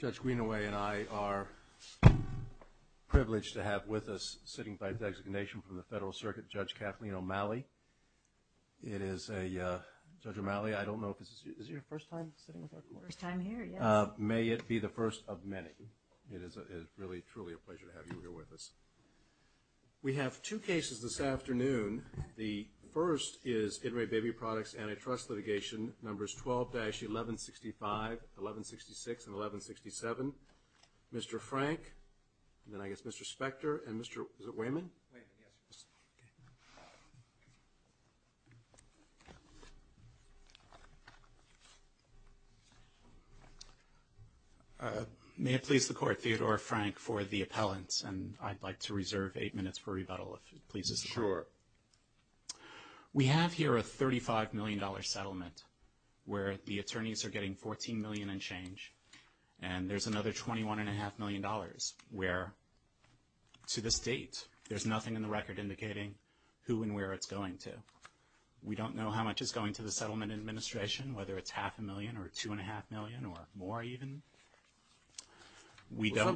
Judge Greenaway and I are privileged to have with us, sitting by designation from the federal circuit, Judge Kathleen O'Malley. It is a, Judge O'Malley, I don't know if this is your first time sitting with our court. First time here, yes. May it be the first of many. It is really, truly a pleasure to have you here with us. We have two cases this afternoon. The first is In Re Baby Products Antitrust Litigation, numbers 12-1165, 1166, and 1167. Mr. Frank, and then I guess Mr. Spector, and Mr., is it Wayman? Wayman, yes. May it please the court, Theodore Frank for the appellants. And I'd like to reserve eight minutes for rebuttal if it pleases the court. Sure. We have here a $35 million settlement where the attorneys are getting $14 million and change. And there's another $21.5 million where, to this date, there's nothing in the record indicating who and where it's going to. We don't know how much is going to the settlement administration, whether it's half a million or 2.5 million or more even.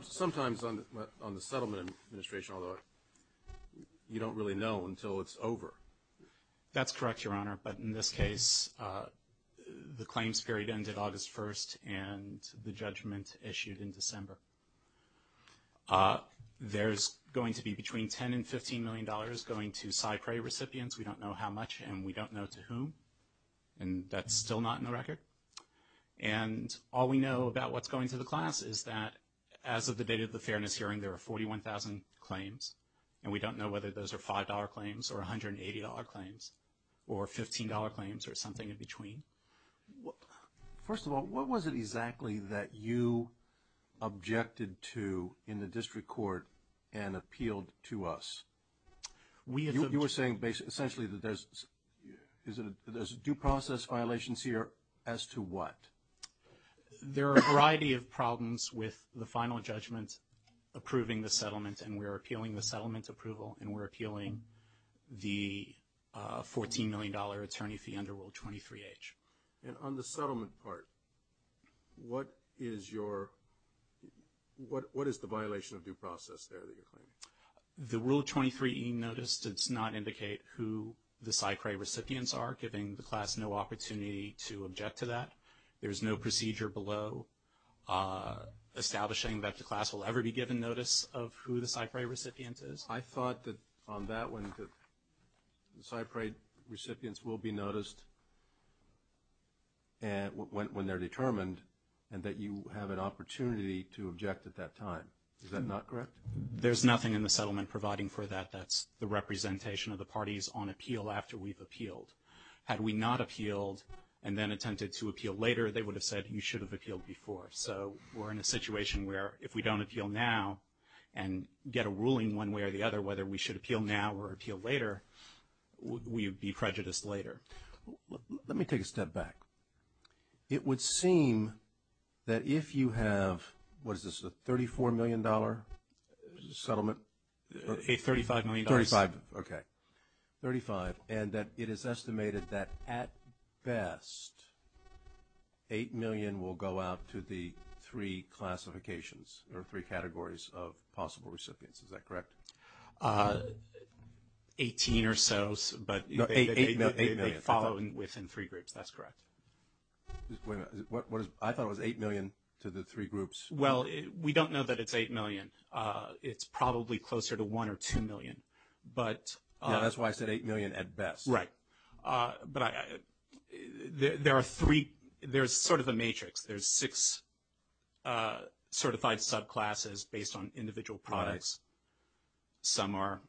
Sometimes on the settlement administration, although, you don't really know until it's over. That's correct, Your Honor. But in this case, the claims period ended August 1st and the judgment issued in December. There's going to be between $10 and $15 million going to Cypre recipients. We don't know how much and we don't know to whom, and that's still not in the record. And all we know about what's going to the class is that as of the date of the fairness hearing, there are 41,000 claims. And we don't know whether those are $5 claims or $180 claims or $15 claims or something in between. First of all, what was it exactly that you objected to in the district court and appealed to us? You were saying essentially that there's due process violations here as to what? There are a variety of problems with the final judgment approving the settlement, and we're appealing the settlement approval and we're appealing the $14 million attorney fee under Rule 23H. And on the settlement part, what is the violation of due process there that you're claiming? The Rule 23E notice does not indicate who the Cypre recipients are, giving the class no opportunity to object to that. There's no procedure below establishing that the class will ever be given notice of who the Cypre recipient is. I thought that on that one, the Cypre recipients will be noticed when they're determined and that you have an opportunity to object at that time. Is that not correct? There's nothing in the settlement providing for that. That's the representation of the parties on appeal after we've appealed. Had we not appealed and then attempted to appeal later, they would have said you should have appealed before. So we're in a situation where if we don't appeal now and get a ruling one way or the other, whether we should appeal now or appeal later, we would be prejudiced later. Let me take a step back. It would seem that if you have, what is this, a $34 million settlement? $35 million. $35. Okay. $35. And that it is estimated that at best, $8 million will go out to the three classifications or three categories of possible recipients. Is that correct? 18 or so. No, $8 million. They follow within three groups. That's correct. Wait a minute. I thought it was $8 million to the three groups. Well, we don't know that it's $8 million. It's probably closer to $1 or $2 million. Yeah, that's why I said $8 million at best. Right. But there's sort of a matrix. There's six certified subclasses based on individual products. Some are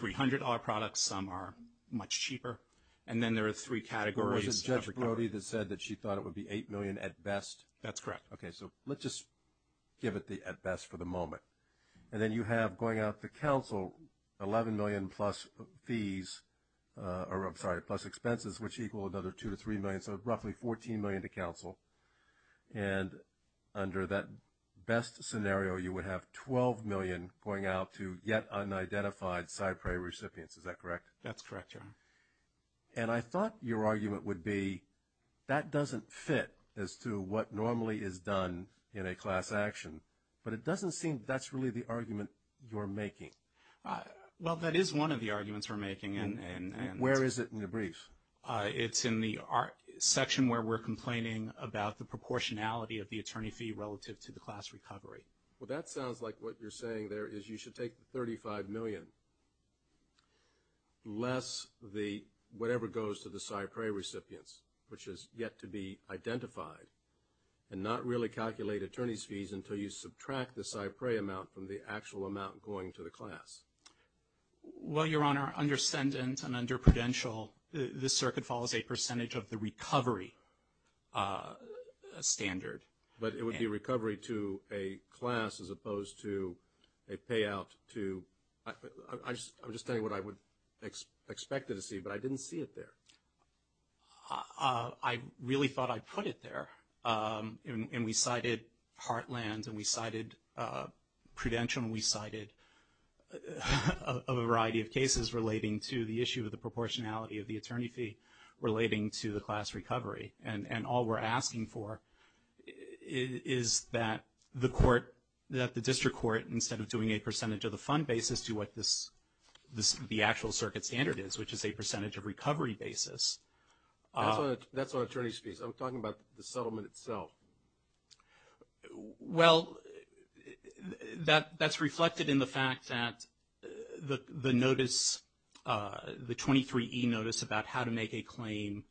$300 products. Some are much cheaper. And then there are three categories. But wasn't Judge Brody that said that she thought it would be $8 million at best? That's correct. Okay. So let's just give it the at best for the moment. And then you have going out to counsel $11 million plus fees, or I'm sorry, plus expenses, which equal another $2 to $3 million. So roughly $14 million to counsel. And under that best scenario, you would have $12 million going out to yet unidentified SIPRI recipients. Is that correct? That's correct, Your Honor. And I thought your argument would be that doesn't fit as to what normally is done in a class action. But it doesn't seem that's really the argument you're making. Well, that is one of the arguments we're making. Where is it in the brief? It's in the section where we're complaining about the proportionality of the attorney fee relative to the class recovery. Well, that sounds like what you're saying there is you should take the $35 million less the whatever goes to the SIPRI recipients, which has yet to be identified, and not really calculate attorney's fees until you subtract the SIPRI amount from the actual amount going to the class. Well, Your Honor, understand and under prudential, this circuit follows a percentage of the recovery standard. But it would be recovery to a class as opposed to a payout to – I'm just saying what I would expect it to see, but I didn't see it there. I really thought I put it there. And we cited Heartland, and we cited Prudential, and we cited a variety of cases relating to the issue of the proportionality of the attorney fee relating to the class recovery. And all we're asking for is that the court, that the district court instead of doing a percentage of the fund basis to what the actual circuit standard is, which is a percentage of recovery basis. That's on attorney's fees. I'm talking about the settlement itself. Well, that's reflected in the fact that the notice, the 23E notice about how to make a claim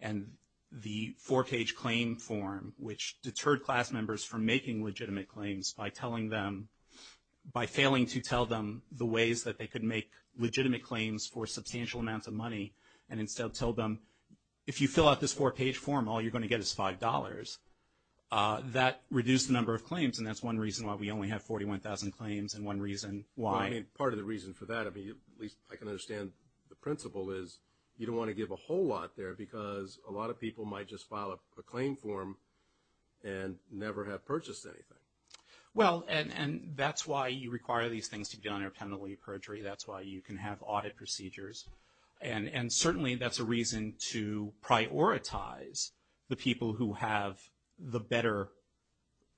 and the four-page claim form, which deterred class members from making legitimate claims by telling them, by failing to tell them the ways that they could make legitimate claims for substantial amounts of money and instead tell them, if you fill out this four-page form, all you're going to get is $5. That reduced the number of claims, and that's one reason why we only have 41,000 claims and one reason why. Part of the reason for that, at least I can understand the principle, is you don't want to give a whole lot there because a lot of people might just file a claim form and never have purchased anything. Well, and that's why you require these things to be done independently of perjury. That's why you can have audit procedures, and certainly that's a reason to prioritize the people who have the better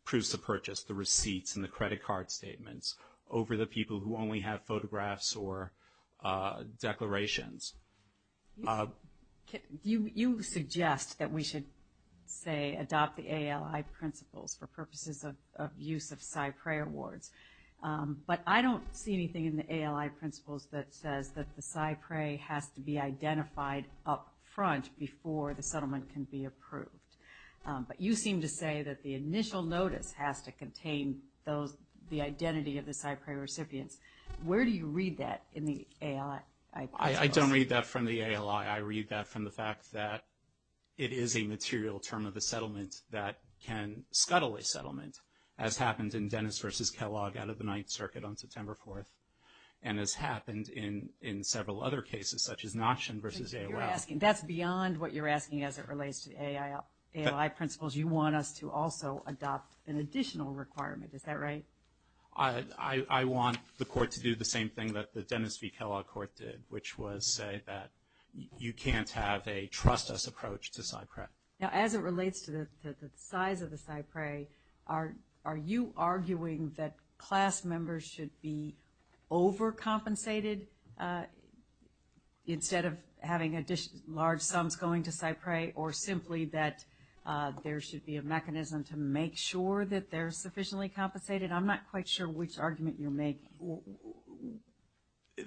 proofs of purchase, the receipts and the credit card statements, over the people who only have photographs or declarations. You suggest that we should, say, adopt the ALI principles for purposes of use of PSI PREA awards, but I don't see anything in the ALI principles that says that the PSI PREA has to be identified up front before the settlement can be approved. But you seem to say that the initial notice has to contain the identity of the PSI PREA recipients. Where do you read that in the ALI principles? I don't read that from the ALI. I read that from the fact that it is a material term of the settlement that can scuttle a settlement, as happened in Dennis v. Kellogg out of the Ninth Circuit on September 4th, and has happened in several other cases, such as Notchin v. AOL. That's beyond what you're asking as it relates to the ALI principles. You want us to also adopt an additional requirement. Is that right? I want the court to do the same thing that the Dennis v. Kellogg court did, which was say that you can't have a trust us approach to PSI PREA. Now, as it relates to the size of the PSI PREA, are you arguing that class members should be overcompensated instead of having large sums going to PSI PREA, or simply that there should be a mechanism to make sure that they're sufficiently compensated? I'm not quite sure which argument you're making.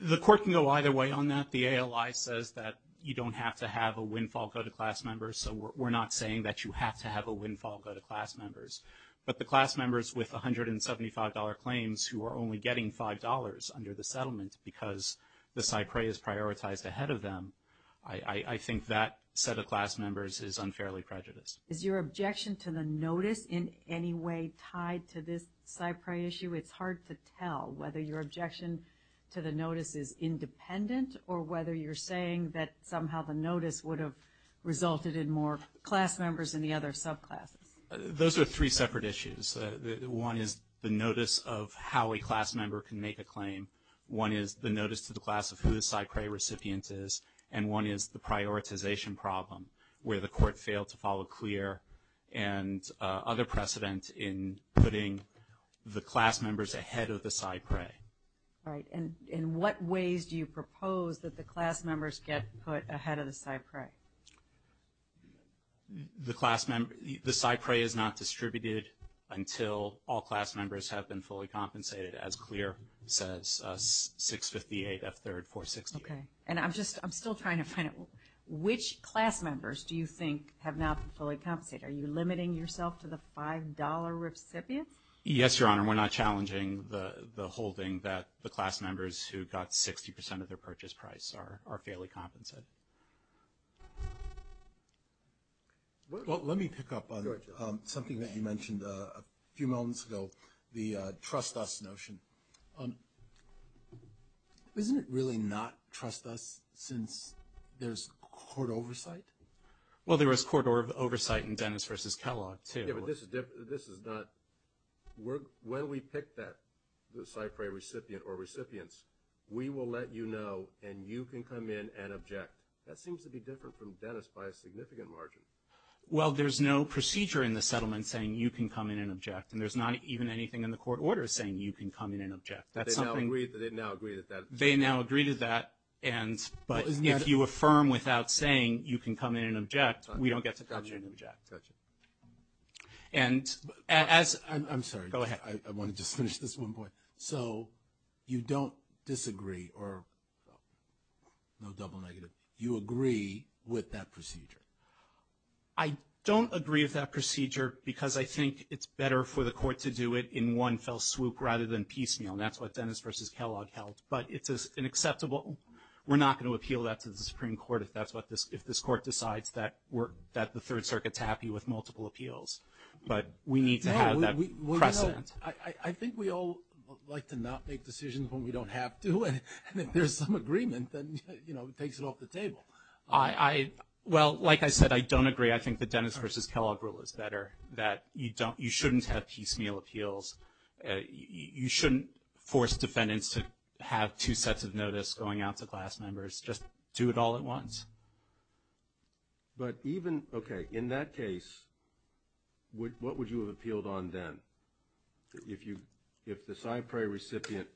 The court can go either way on that. The ALI says that you don't have to have a windfall go to class members, so we're not saying that you have to have a windfall go to class members. But the class members with $175 claims who are only getting $5 under the I think that set of class members is unfairly prejudiced. Is your objection to the notice in any way tied to this PSI PREA issue? It's hard to tell whether your objection to the notice is independent or whether you're saying that somehow the notice would have resulted in more class members in the other subclasses. Those are three separate issues. One is the notice of how a class member can make a claim. One is the notice to the class of who the PSI PREA recipient is. And one is the prioritization problem where the court failed to follow CLEAR and other precedent in putting the class members ahead of the PSI PREA. Right. And what ways do you propose that the class members get put ahead of the PSI PREA? The PSI PREA is not distributed until all class members have been fully compensated, as CLEAR says, 658 F3, 468. Okay. And I'm still trying to find it. Which class members do you think have not been fully compensated? Are you limiting yourself to the $5 recipient? Yes, Your Honor. We're not challenging the holding that the class members who got 60% of their purchase price are fairly compensated. Well, let me pick up on something that you mentioned a few moments ago, the trust us notion. Isn't it really not trust us since there's court oversight? Well, there is court oversight in Dennis v. Kellogg, too. Yeah, but this is not – when we pick that PSI PREA recipient or recipients, we will let you know and you can come in and object. That seems to be different from Dennis by a significant margin. Well, there's no procedure in the settlement saying you can come in and object. They now agree to that. They now agree to that. But if you affirm without saying you can come in and object, we don't get to come in and object. Gotcha. And as – I'm sorry. Go ahead. I want to just finish this one point. So you don't disagree or – no double negative. You agree with that procedure. I don't agree with that procedure because I think it's better for the court to do it in one fell swoop rather than piecemeal, and that's what Dennis v. Kellogg held. But it's unacceptable. We're not going to appeal that to the Supreme Court if that's what this – if this court decides that the Third Circuit's happy with multiple appeals. But we need to have that precedent. I think we all like to not make decisions when we don't have to, and if there's some agreement, then, you know, it takes it off the table. Well, like I said, I don't agree. I think the Dennis v. Kellogg rule is better, that you don't – you shouldn't have piecemeal appeals. You shouldn't force defendants to have two sets of notice going out to class members. Just do it all at once. But even – okay. In that case, what would you have appealed on then? If you – if the CyPra recipient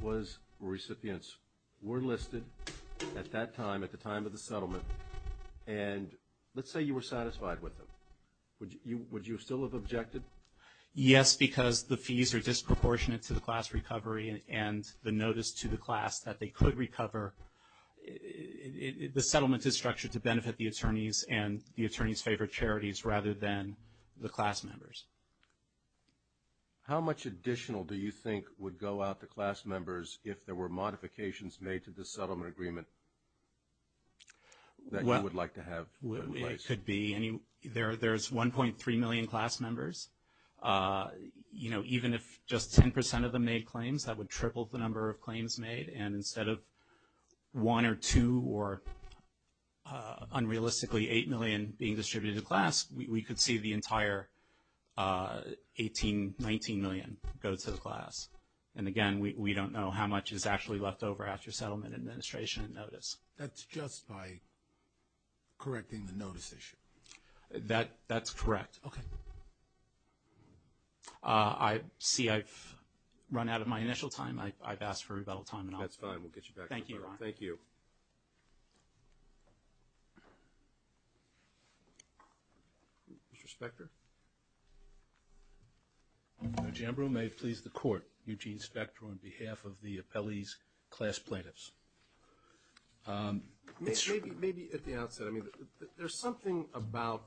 was – recipients were listed at that time, at the time of the settlement, and let's say you were satisfied with them, would you still have objected? Yes, because the fees are disproportionate to the class recovery and the notice to the class that they could recover. The settlement is structured to benefit the attorneys and the attorneys' favorite charities rather than the class members. How much additional do you think would go out to class members if there were modifications made to the settlement agreement that you would like to have in place? Well, it could be any – there's 1.3 million class members. You know, even if just 10% of them made claims, that would triple the number of claims made. And instead of one or two or, unrealistically, eight million being distributed to class, we could see the entire 18, 19 million go to the class. And, again, we don't know how much is actually left over after settlement administration and notice. That's just by correcting the notice issue. That's correct. Okay. I see I've run out of my initial time. I've asked for rebuttal time and all that. That's fine. We'll get you back to it. Thank you, Ron. Thank you. Mr. Spector? Mr. Jambro, may it please the court, Eugene Spector on behalf of the appellee's class plaintiffs. Maybe at the outset. I mean, there's something about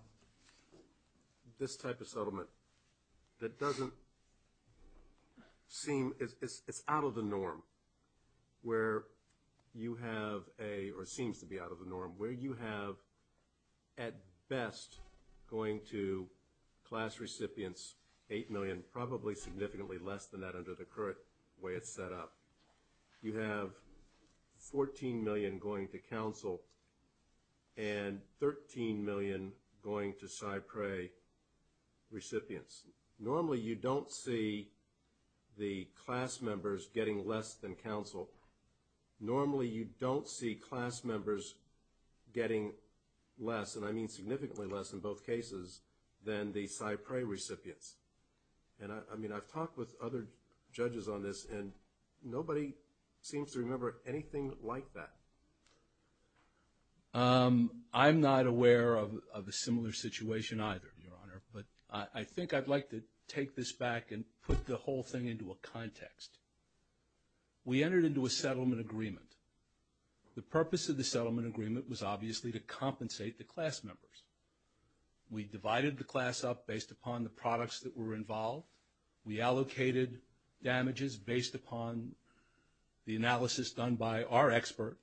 this type of settlement that doesn't seem – it's out of the norm where you have a – or seems to be out of the norm where you have, at best, going to class recipients, eight million, probably significantly less than that under the current way it's set up. You have 14 million going to counsel and 13 million going to CyPray recipients. Normally, you don't see the class members getting less than counsel. Normally, you don't see class members getting less, and I mean significantly less in both cases, than the CyPray recipients. And, I mean, I've talked with other judges on this, and nobody seems to remember anything like that. I'm not aware of a similar situation either, Your Honor, but I think I'd like to take this back and put the whole thing into a context. We entered into a settlement agreement. The purpose of the settlement agreement was obviously to compensate the class members. We divided the class up based upon the products that were involved. We allocated damages based upon the analysis done by our expert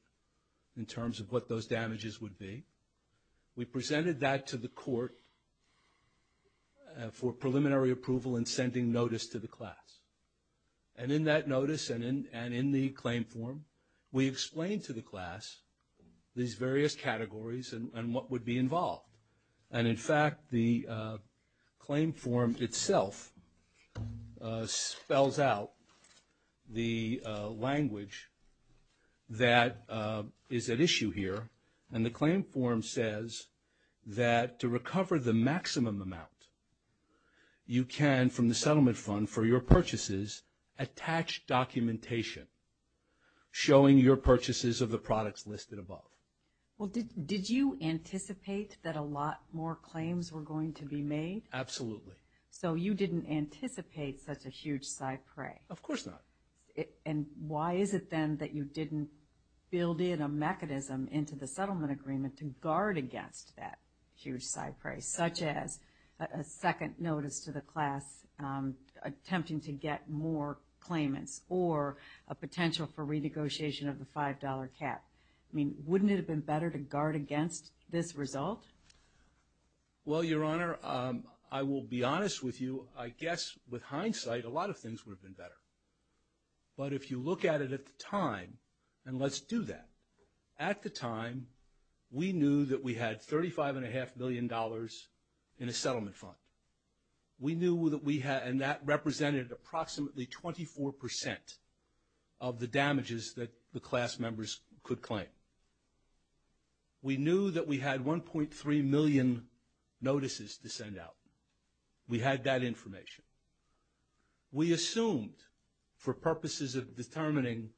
in terms of what those damages would be. We presented that to the court for preliminary approval and sending notice to the class. And in that notice and in the claim form, we explained to the class these various categories and what would be involved. And, in fact, the claim form itself spells out the language that is at issue here, and the claim form says that to recover the maximum amount you can from the settlement fund for your purchases, attach documentation showing your purchases of the products listed above. Well, did you anticipate that a lot more claims were going to be made? Absolutely. So you didn't anticipate such a huge CyPray? Of course not. And why is it then that you didn't build in a mechanism into the settlement agreement to guard against that huge CyPray, such as a second notice to the class attempting to get more claimants or a potential for renegotiation of the $5 cap? I mean, wouldn't it have been better to guard against this result? Well, Your Honor, I will be honest with you. I guess with hindsight, a lot of things would have been better. But if you look at it at the time, and let's do that. At the time, we knew that we had $35.5 million in a settlement fund. We knew that we had, and that represented approximately 24% of the damages that the class members could claim. We knew that we had 1.3 million notices to send out. We had that information. We assumed for purposes of determining,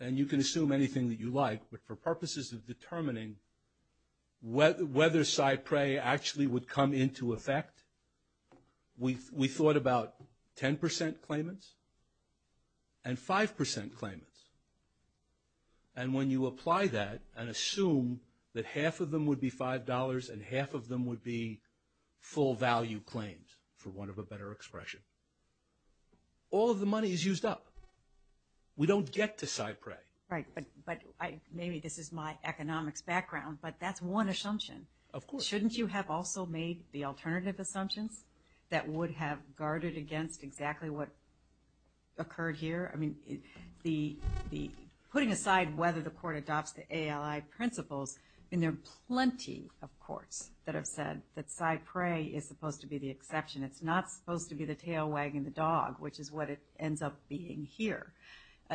and you can assume anything that you like, but for purposes of determining whether CyPray actually would come into effect, we thought about 10% claimants and 5% claimants. And when you apply that and assume that half of them would be $5 and half of them would be full value claims, for want of a better expression, all of the money is used up. We don't get to CyPray. Right, but maybe this is my economics background, but that's one assumption. Of course. Shouldn't you have also made the alternative assumptions that would have guarded against exactly what occurred here? I mean, putting aside whether the court adopts the ALI principles, and there are plenty of courts that have said that CyPray is supposed to be the exception. It's not supposed to be the tail wagging the dog, which is what it ends up being here,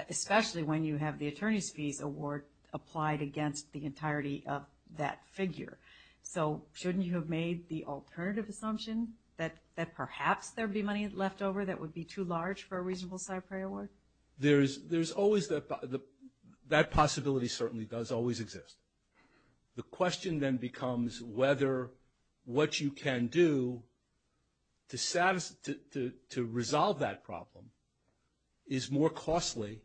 especially when you have the attorney's fees award applied against the entirety of that figure. So shouldn't you have made the alternative assumption that perhaps there would be money left over that would be too large for a reasonable CyPray award? Well, there's always that possibility. That possibility certainly does always exist. The question then becomes whether what you can do to resolve that problem is more costly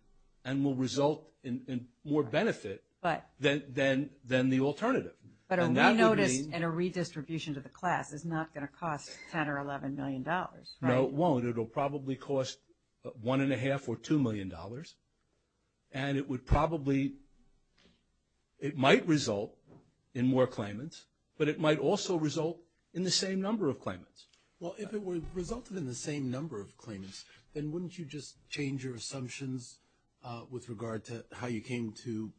and will result in more benefit than the alternative. But a re-notice and a redistribution to the class is not going to cost $10 or $11 million, right? No, it won't. It will probably cost $1.5 or $2 million. And it would probably – it might result in more claimants, but it might also result in the same number of claimants. Well, if it resulted in the same number of claimants, then wouldn't you just change your assumptions with regard to how you came to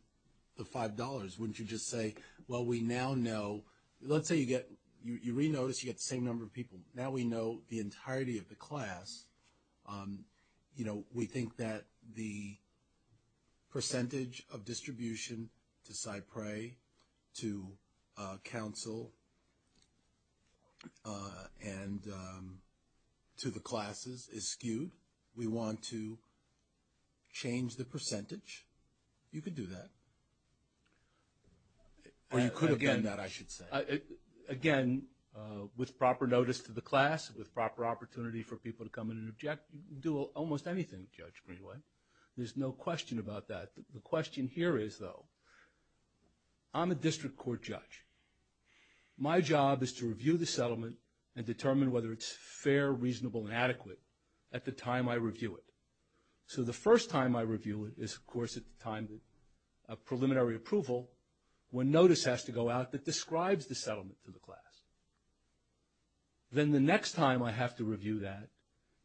the $5? Wouldn't you just say, well, we now know – let's say you get – you re-notice, you get the same number of people. Now we know the entirety of the class. You know, we think that the percentage of distribution to CyPray, to counsel, and to the classes is skewed. We want to change the percentage. You could do that. Or you could have done that, I should say. Again, with proper notice to the class, with proper opportunity for people to come in and object, you can do almost anything, Judge Greenway. There's no question about that. The question here is, though, I'm a district court judge. My job is to review the settlement and determine whether it's fair, reasonable, and adequate at the time I review it. So the first time I review it is, of course, at the time of preliminary approval when notice has to go out that describes the settlement to the class. Then the next time I have to review that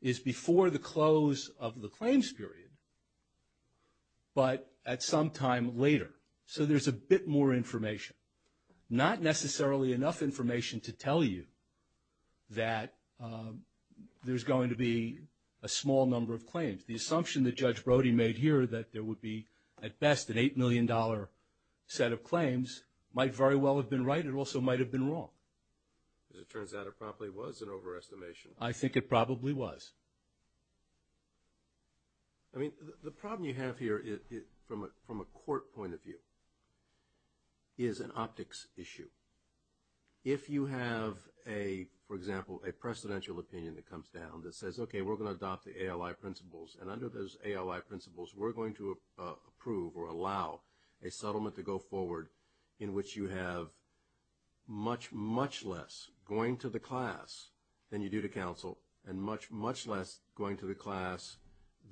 is before the close of the claims period, but at some time later. So there's a bit more information, not necessarily enough information to tell you that there's going to be a small number of claims. The assumption that Judge Brody made here that there would be, at best, an $8 million set of claims might very well have been right. It also might have been wrong. As it turns out, it probably was an overestimation. I think it probably was. I mean, the problem you have here from a court point of view is an optics issue. If you have, for example, a precedential opinion that comes down that says, okay, we're going to adopt the ALI principles, and under those ALI principles, we're going to approve or allow a settlement to go forward in which you have much, much less going to the class than you do to counsel and much, much less going to the class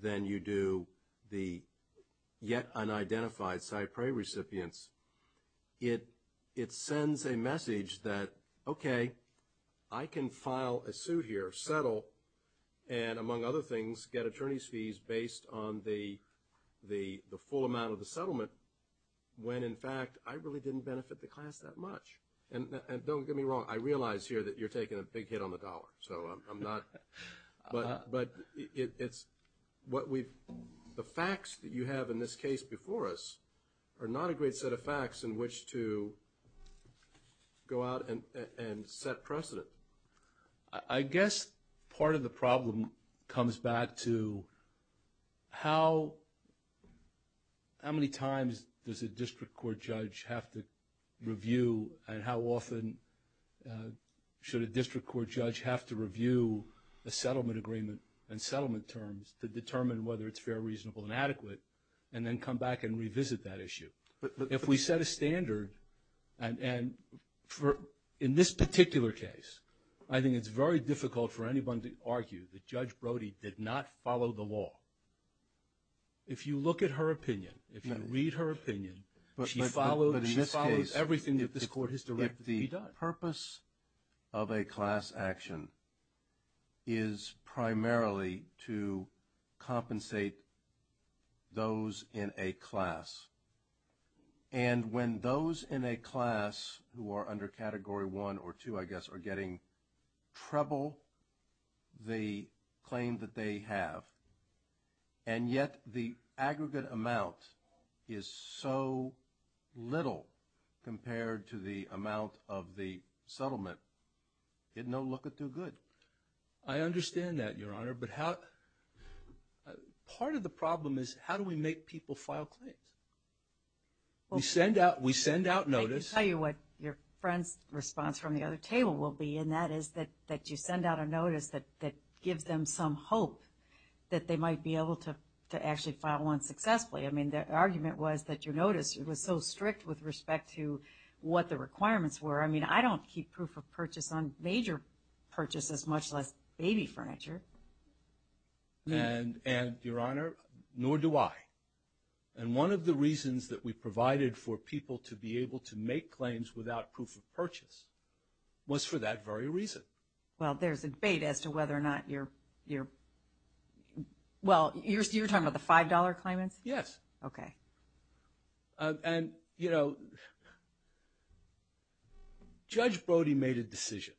than you do the yet unidentified CyPRAE recipients, it sends a message that, okay, I can file a suit here, settle, and, among other things, get attorney's fees based on the full amount of the settlement, when, in fact, I really didn't benefit the class that much. And don't get me wrong, I realize here that you're taking a big hit on the dollar, so I'm not, but it's what we've, the facts that you have in this case before us are not a great set of facts in which to go out and set precedent. I guess part of the problem comes back to how many times does a district court judge have to review and how often should a district court judge have to review a settlement agreement and settlement terms to determine whether it's fair, reasonable, and adequate, and then come back and revisit that issue. If we set a standard, and in this particular case, I think it's very difficult for anyone to argue that Judge Brody did not follow the law. If you look at her opinion, if you read her opinion, she followed everything that this court has directed that she does. But in this case, if the purpose of a class action is primarily to compensate those in a class, and when those in a class who are under Category 1 or 2, I guess, are getting treble, the claim that they have, and yet the aggregate amount is so little compared to the amount of the settlement, it's no looker too good. I understand that, Your Honor, but how, part of the problem is how do we make people file claims? We send out, we send out notice. I can tell you what your friend's response from the other table will be, and that is that you send out a notice that gives them some hope that they might be able to actually file one successfully. I mean, their argument was that your notice was so strict with respect to what the requirements were. I mean, I don't keep proof of purchase on major purchases, much less baby furniture. And, Your Honor, nor do I. And one of the reasons that we provided for people to be able to make claims without proof of purchase was for that very reason. Well, there's a debate as to whether or not you're, well, you're talking about the $5 claimants? Yes. Okay. And, you know, Judge Brody made a decision.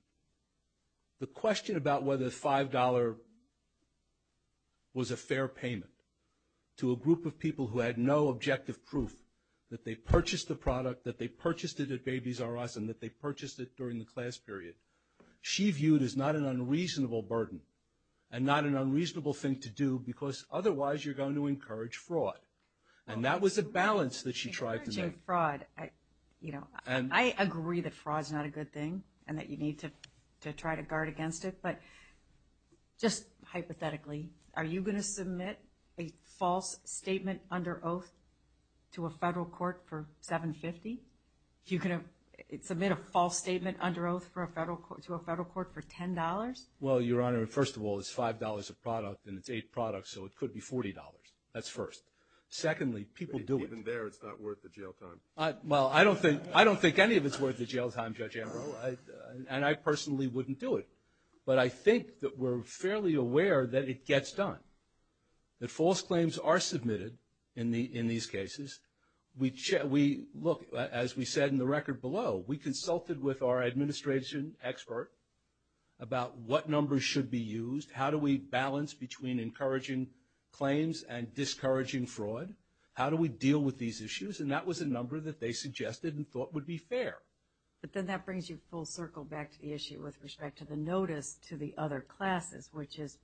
The question about whether the $5 was a fair payment to a group of people who had no objective proof that they purchased the product, that they purchased it at Babies R Us, and that they purchased it during the class period, she viewed as not an unreasonable burden and not an unreasonable thing to do because otherwise you're going to encourage fraud. And that was a balance that she tried to make. Encouraging fraud, you know, I agree that fraud's not a good thing and that you need to try to guard against it, but just hypothetically, are you going to submit a false statement under oath to a federal court for $7.50? You're going to submit a false statement under oath to a federal court for $10? Well, Your Honor, first of all, it's $5 a product and it's eight products, so it could be $40. That's first. Secondly, people do it. Even there, it's not worth the jail time. Well, I don't think any of it's worth the jail time, Judge Ambrose, and I personally wouldn't do it. But I think that we're fairly aware that it gets done. That false claims are submitted in these cases. Look, as we said in the record below, we consulted with our administration expert about what numbers should be used, how do we balance between encouraging claims and discouraging fraud, how do we deal with these issues, and that was a number that they suggested and thought would be fair. But then that brings you full circle back to the issue with respect to the notice to the other classes, which is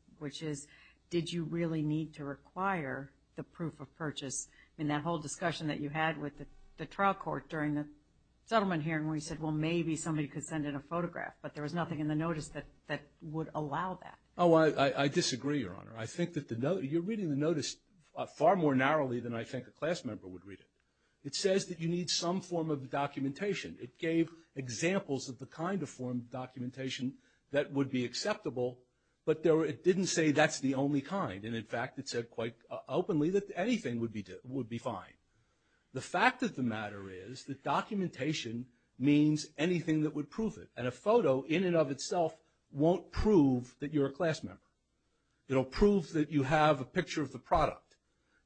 did you really need to require the proof of purchase? I mean, that whole discussion that you had with the trial court during the settlement hearing where you said, well, maybe somebody could send in a photograph, but there was nothing in the notice that would allow that. Oh, I disagree, Your Honor. I think that you're reading the notice far more narrowly than I think a class member would read it. It says that you need some form of documentation. It gave examples of the kind of form of documentation that would be acceptable, but it didn't say that's the only kind, and, in fact, it said quite openly that anything would be fine. The fact of the matter is that documentation means anything that would prove it, and a photo in and of itself won't prove that you're a class member. It'll prove that you have a picture of the product.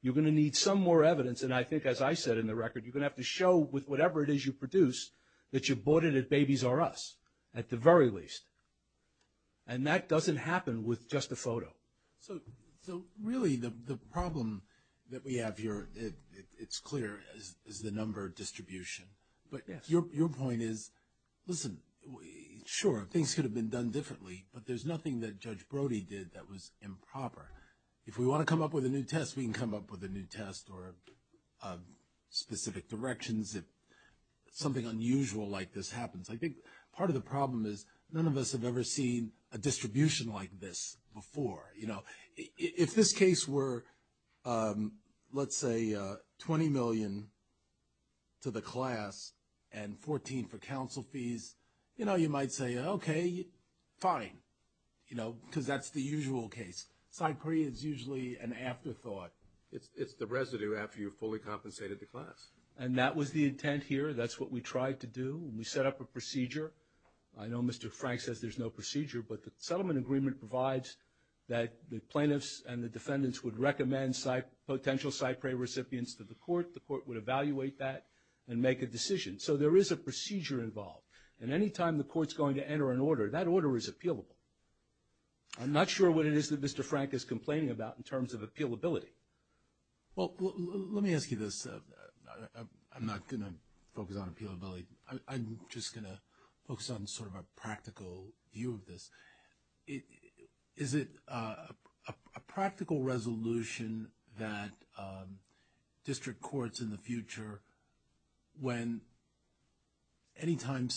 You're going to need some more evidence, and I think, as I said in the record, you're going to have to show with whatever it is you produced that you bought it at Baby's R Us, at the very least, and that doesn't happen with just a photo. So, really, the problem that we have here, it's clear, is the number distribution. Yes. But your point is, listen, sure, things could have been done differently, but there's nothing that Judge Brody did that was improper. If we want to come up with a new test, we can come up with a new test or specific directions if something unusual like this happens. I think part of the problem is none of us have ever seen a distribution like this before. You know, if this case were, let's say, $20 million to the class and $14 for counsel fees, you know, you might say, okay, fine, you know, because that's the usual case. Side prey is usually an afterthought. It's the residue after you've fully compensated the class. And that was the intent here. That's what we tried to do. We set up a procedure. I know Mr. Frank says there's no procedure, but the settlement agreement provides that the plaintiffs and the defendants would recommend potential side prey recipients to the court. The court would evaluate that and make a decision. So there is a procedure involved. And any time the court's going to enter an order, that order is appealable. I'm not sure what it is that Mr. Frank is complaining about in terms of appealability. Well, let me ask you this. I'm not going to focus on appealability. I'm just going to focus on sort of a practical view of this. Is it a practical resolution that district courts in the future, when any time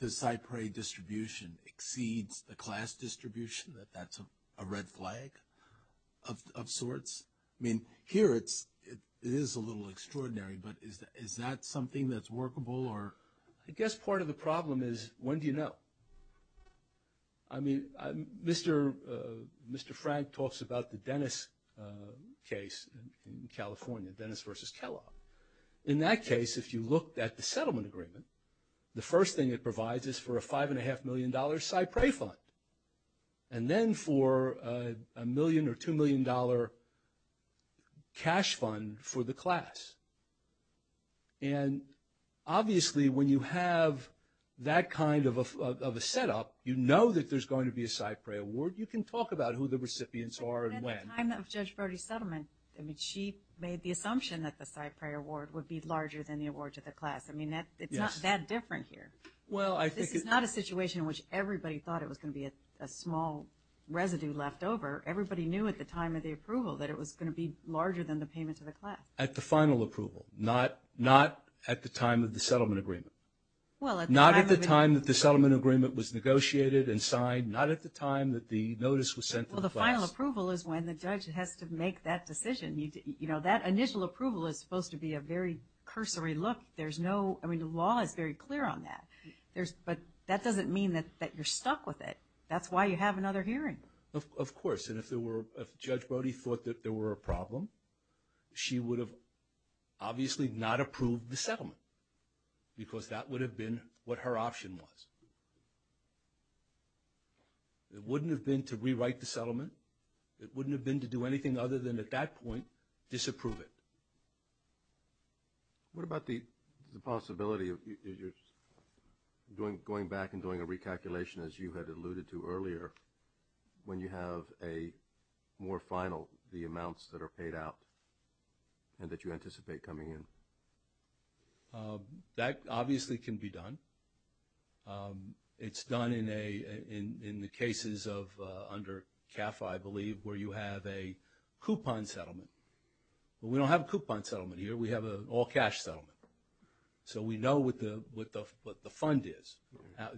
the side prey distribution exceeds the class distribution, that that's a red flag of sorts? I mean, here it is a little extraordinary, but is that something that's workable? I guess part of the problem is when do you know? I mean, Mr. Frank talks about the Dennis case in California, Dennis versus Kellogg. In that case, if you looked at the settlement agreement, the first thing it provides is for a $5.5 million side prey fund, and then for a million or $2 million cash fund for the class. And obviously when you have that kind of a setup, you know that there's going to be a side prey award. You can talk about who the recipients are and when. At the time of Judge Brody's settlement, she made the assumption that the side prey award would be larger than the award to the class. I mean, it's not that different here. This is not a situation in which everybody thought it was going to be a small residue left over. Everybody knew at the time of the approval that it was going to be larger than the payment to the class. At the final approval, not at the time of the settlement agreement. Not at the time that the settlement agreement was negotiated and signed. Not at the time that the notice was sent to the class. The final approval is when the judge has to make that decision. You know, that initial approval is supposed to be a very cursory look. There's no – I mean, the law is very clear on that. But that doesn't mean that you're stuck with it. That's why you have another hearing. Of course. And if Judge Brody thought that there were a problem, she would have obviously not approved the settlement because that would have been what her option was. It wouldn't have been to rewrite the settlement. It wouldn't have been to do anything other than at that point disapprove it. What about the possibility of going back and doing a recalculation, as you had alluded to earlier, when you have a more final, the amounts that are paid out and that you anticipate coming in? That obviously can be done. It's done in the cases under CAF, I believe, where you have a coupon settlement. But we don't have a coupon settlement here. We have an all-cash settlement. So we know what the fund is.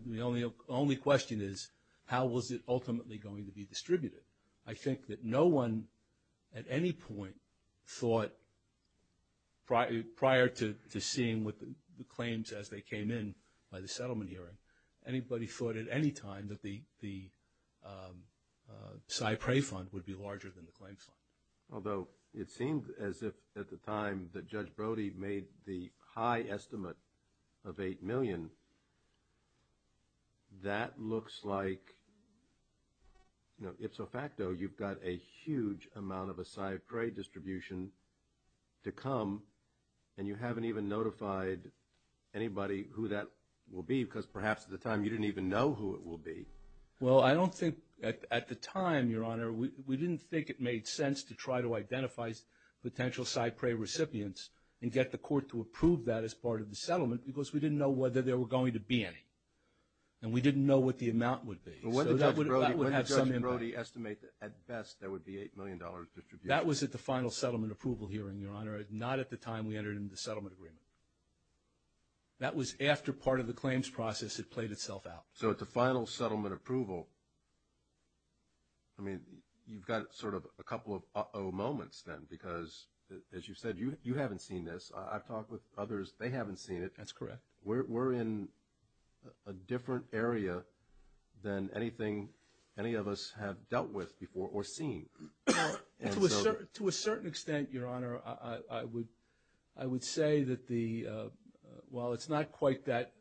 The only question is, how was it ultimately going to be distributed? I think that no one at any point thought prior to seeing the claims as they came in by the settlement hearing, anybody thought at any time that the PSY Prey fund would be larger than the claims fund. Although it seemed as if at the time that Judge Brody made the high estimate of $8 million, that looks like ipso facto. You've got a huge amount of a PSY Prey distribution to come, and you haven't even notified anybody who that will be because perhaps at the time you didn't even know who it will be. Well, I don't think at the time, Your Honor, we didn't think it made sense to try to identify potential PSY Prey recipients and get the court to approve that as part of the settlement because we didn't know whether there were going to be any, and we didn't know what the amount would be. So that would have some impact. But wouldn't Judge Brody estimate that at best there would be $8 million distributed? That was at the final settlement approval hearing, Your Honor, not at the time we entered into the settlement agreement. That was after part of the claims process had played itself out. So at the final settlement approval, I mean, you've got sort of a couple of uh-oh moments then because, as you said, you haven't seen this. I've talked with others. They haven't seen it. That's correct. We're in a different area than anything any of us have dealt with before or seen. To a certain extent, Your Honor, I would say that while it's not quite that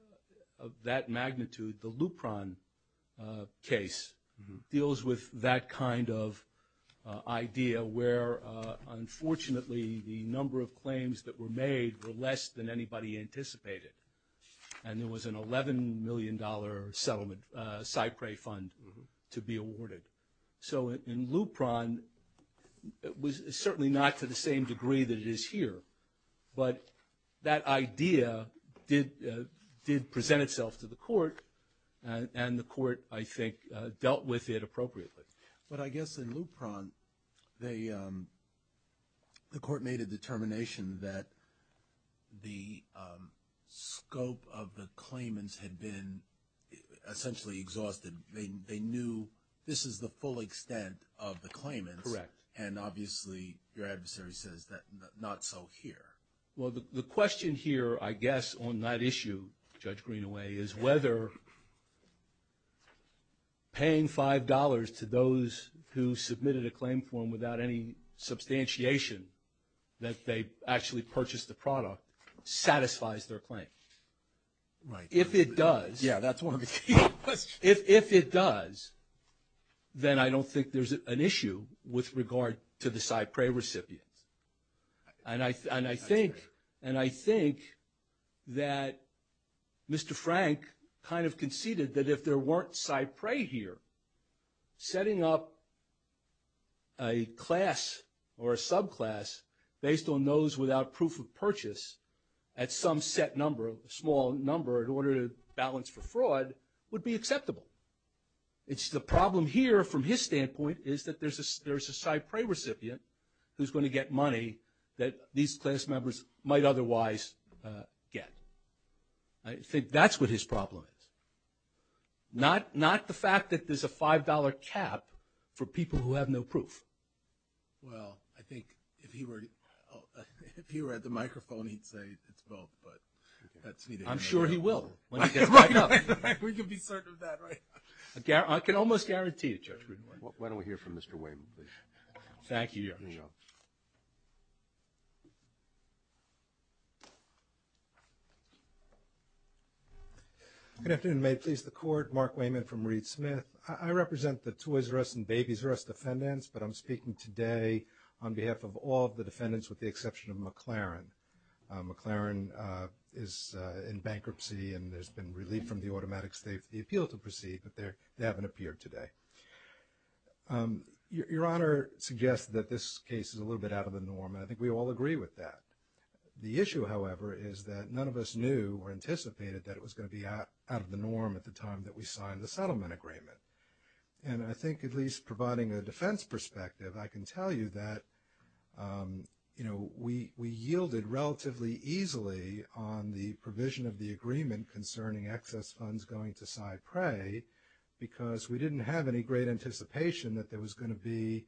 magnitude, the Lupron case deals with that kind of idea where, unfortunately, the number of claims that were made were less than anybody anticipated, and there was an $11 million settlement, PSY Prey fund to be awarded. So in Lupron, it was certainly not to the same degree that it is here, but that idea did present itself to the court, and the court, I think, dealt with it appropriately. But I guess in Lupron, the court made a determination that the scope of the claimants had been essentially exhausted. They knew this is the full extent of the claimants. Correct. And obviously, your adversary says that not so here. Well, the question here, I guess, on that issue, Judge Greenaway, is whether paying $5 to those who submitted a claim form without any substantiation that they actually purchased the product satisfies their claim. Right. If it does. Yeah, that's one of the key questions. If it does, then I don't think there's an issue with regard to the PSY Prey recipients. And I think that Mr. Frank kind of conceded that if there weren't PSY Prey here, setting up a class or a subclass based on those without proof of purchase at some set number, a small number, in order to balance for fraud would be acceptable. It's the problem here from his standpoint is that there's a PSY Prey recipient who's going to get money that these class members might otherwise get. I think that's what his problem is. Not the fact that there's a $5 cap for people who have no proof. Well, I think if he were at the microphone, he'd say it's both, but that's neither here nor there. I'm sure he will when he gets back up. We can be certain of that, right? I can almost guarantee you, Judge Greenaway. Why don't we hear from Mr. Wayman, please? Thank you, Your Honor. Good afternoon. May it please the Court? Mark Wayman from Reed Smith. I represent the Toys R Us and Babies R Us defendants, but I'm speaking today on behalf of all the defendants with the exception of McLaren. McLaren is in bankruptcy and there's been relief from the Automatic State of Appeal to proceed, but they haven't appeared today. Your Honor suggests that this case is a little bit out of the norm, and I think we all agree with that. The issue, however, is that none of us knew or anticipated that it was going to be out of the norm at the time that we signed the settlement agreement. And I think at least providing a defense perspective, I can tell you that we yielded relatively easily on the provision of the agreement concerning excess funds going to side prey because we didn't have any great anticipation that there was going to be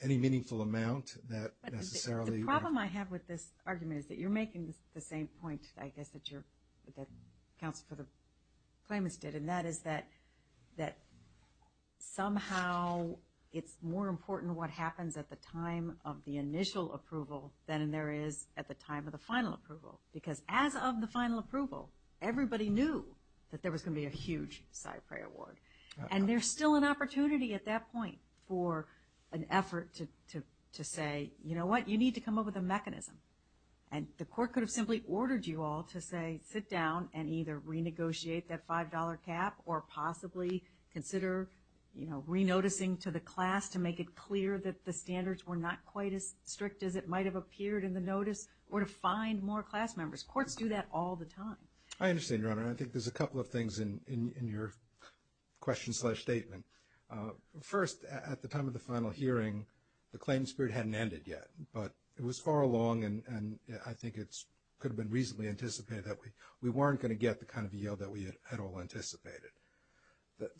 any meaningful amount that necessarily The problem I have with this argument is that you're making the same point, I guess, that counsel for the claimants did, and that is that somehow it's more important what happens at the time of the initial approval than there is at the time of the final approval. Because as of the final approval, everybody knew that there was going to be a huge side prey award. And there's still an opportunity at that point for an effort to say, you know what, you need to come up with a mechanism. And the court could have simply ordered you all to say, sit down and either renegotiate that $5 cap or possibly consider re-noticing to the class to make it clear that the standards were not quite as strict as it might have appeared in the notice or to find more class members. Courts do that all the time. I understand, Your Honor, and I think there's a couple of things in your question-slash-statement. First, at the time of the final hearing, the claim spirit hadn't ended yet. But it was far along, and I think it could have been reasonably anticipated that we weren't going to get the kind of yield that we had all anticipated.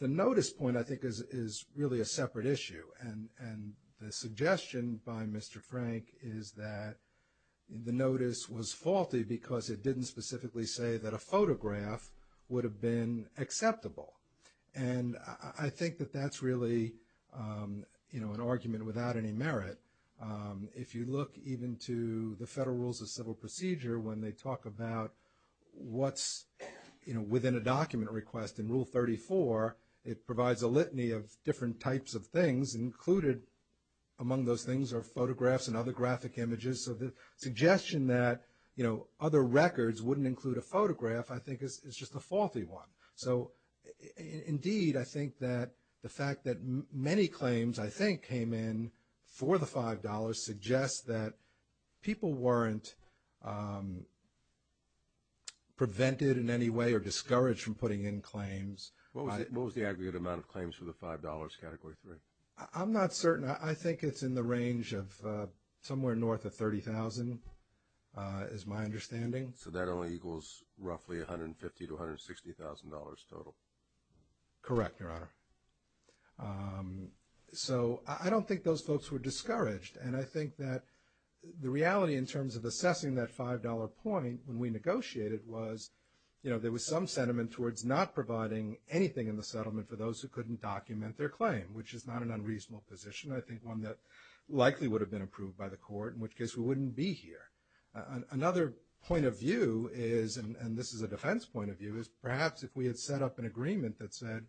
The notice point, I think, is really a separate issue. And the suggestion by Mr. Frank is that the notice was faulty because it didn't specifically say that a photograph would have been acceptable. And I think that that's really an argument without any merit. If you look even to the Federal Rules of Civil Procedure, when they talk about what's within a document request in Rule 34, it provides a litany of different types of things. Included among those things are photographs and other graphic images. So the suggestion that other records wouldn't include a photograph, I think, is just a faulty one. So, indeed, I think that the fact that many claims, I think, came in for the $5 suggests that people weren't prevented in any way or discouraged from putting in claims. What was the aggregate amount of claims for the $5 Category 3? I'm not certain. I think it's in the range of somewhere north of 30,000 is my understanding. So that only equals roughly $150,000 to $160,000 total? Correct, Your Honor. So I don't think those folks were discouraged. And I think that the reality in terms of assessing that $5 point when we negotiated was, you know, there was some sentiment towards not providing anything in the settlement for those who couldn't document their claim, which is not an unreasonable position. I think one that likely would have been approved by the Court, in which case we wouldn't be here. Another point of view is, and this is a defense point of view, is perhaps if we had set up an agreement that said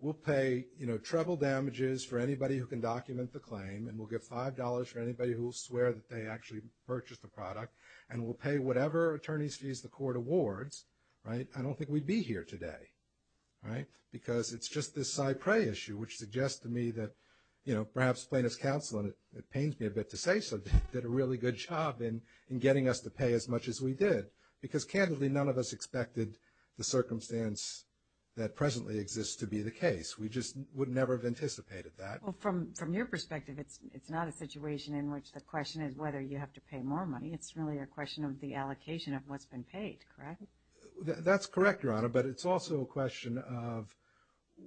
we'll pay, you know, treble damages for anybody who can document the claim, and we'll give $5 for anybody who will swear that they actually purchased the product, and we'll pay whatever attorneys fees the Court awards, right? I don't think we'd be here today, right? Because it's just this cypre issue, which suggests to me that, you know, perhaps plaintiff's counsel, and it pains me a bit to say so, did a really good job in getting us to pay as much as we did. Because, candidly, none of us expected the circumstance that presently exists to be the case. We just would never have anticipated that. Well, from your perspective, it's not a situation in which the question is whether you have to pay more money. It's really a question of the allocation of what's been paid, correct? That's correct, Your Honor, but it's also a question of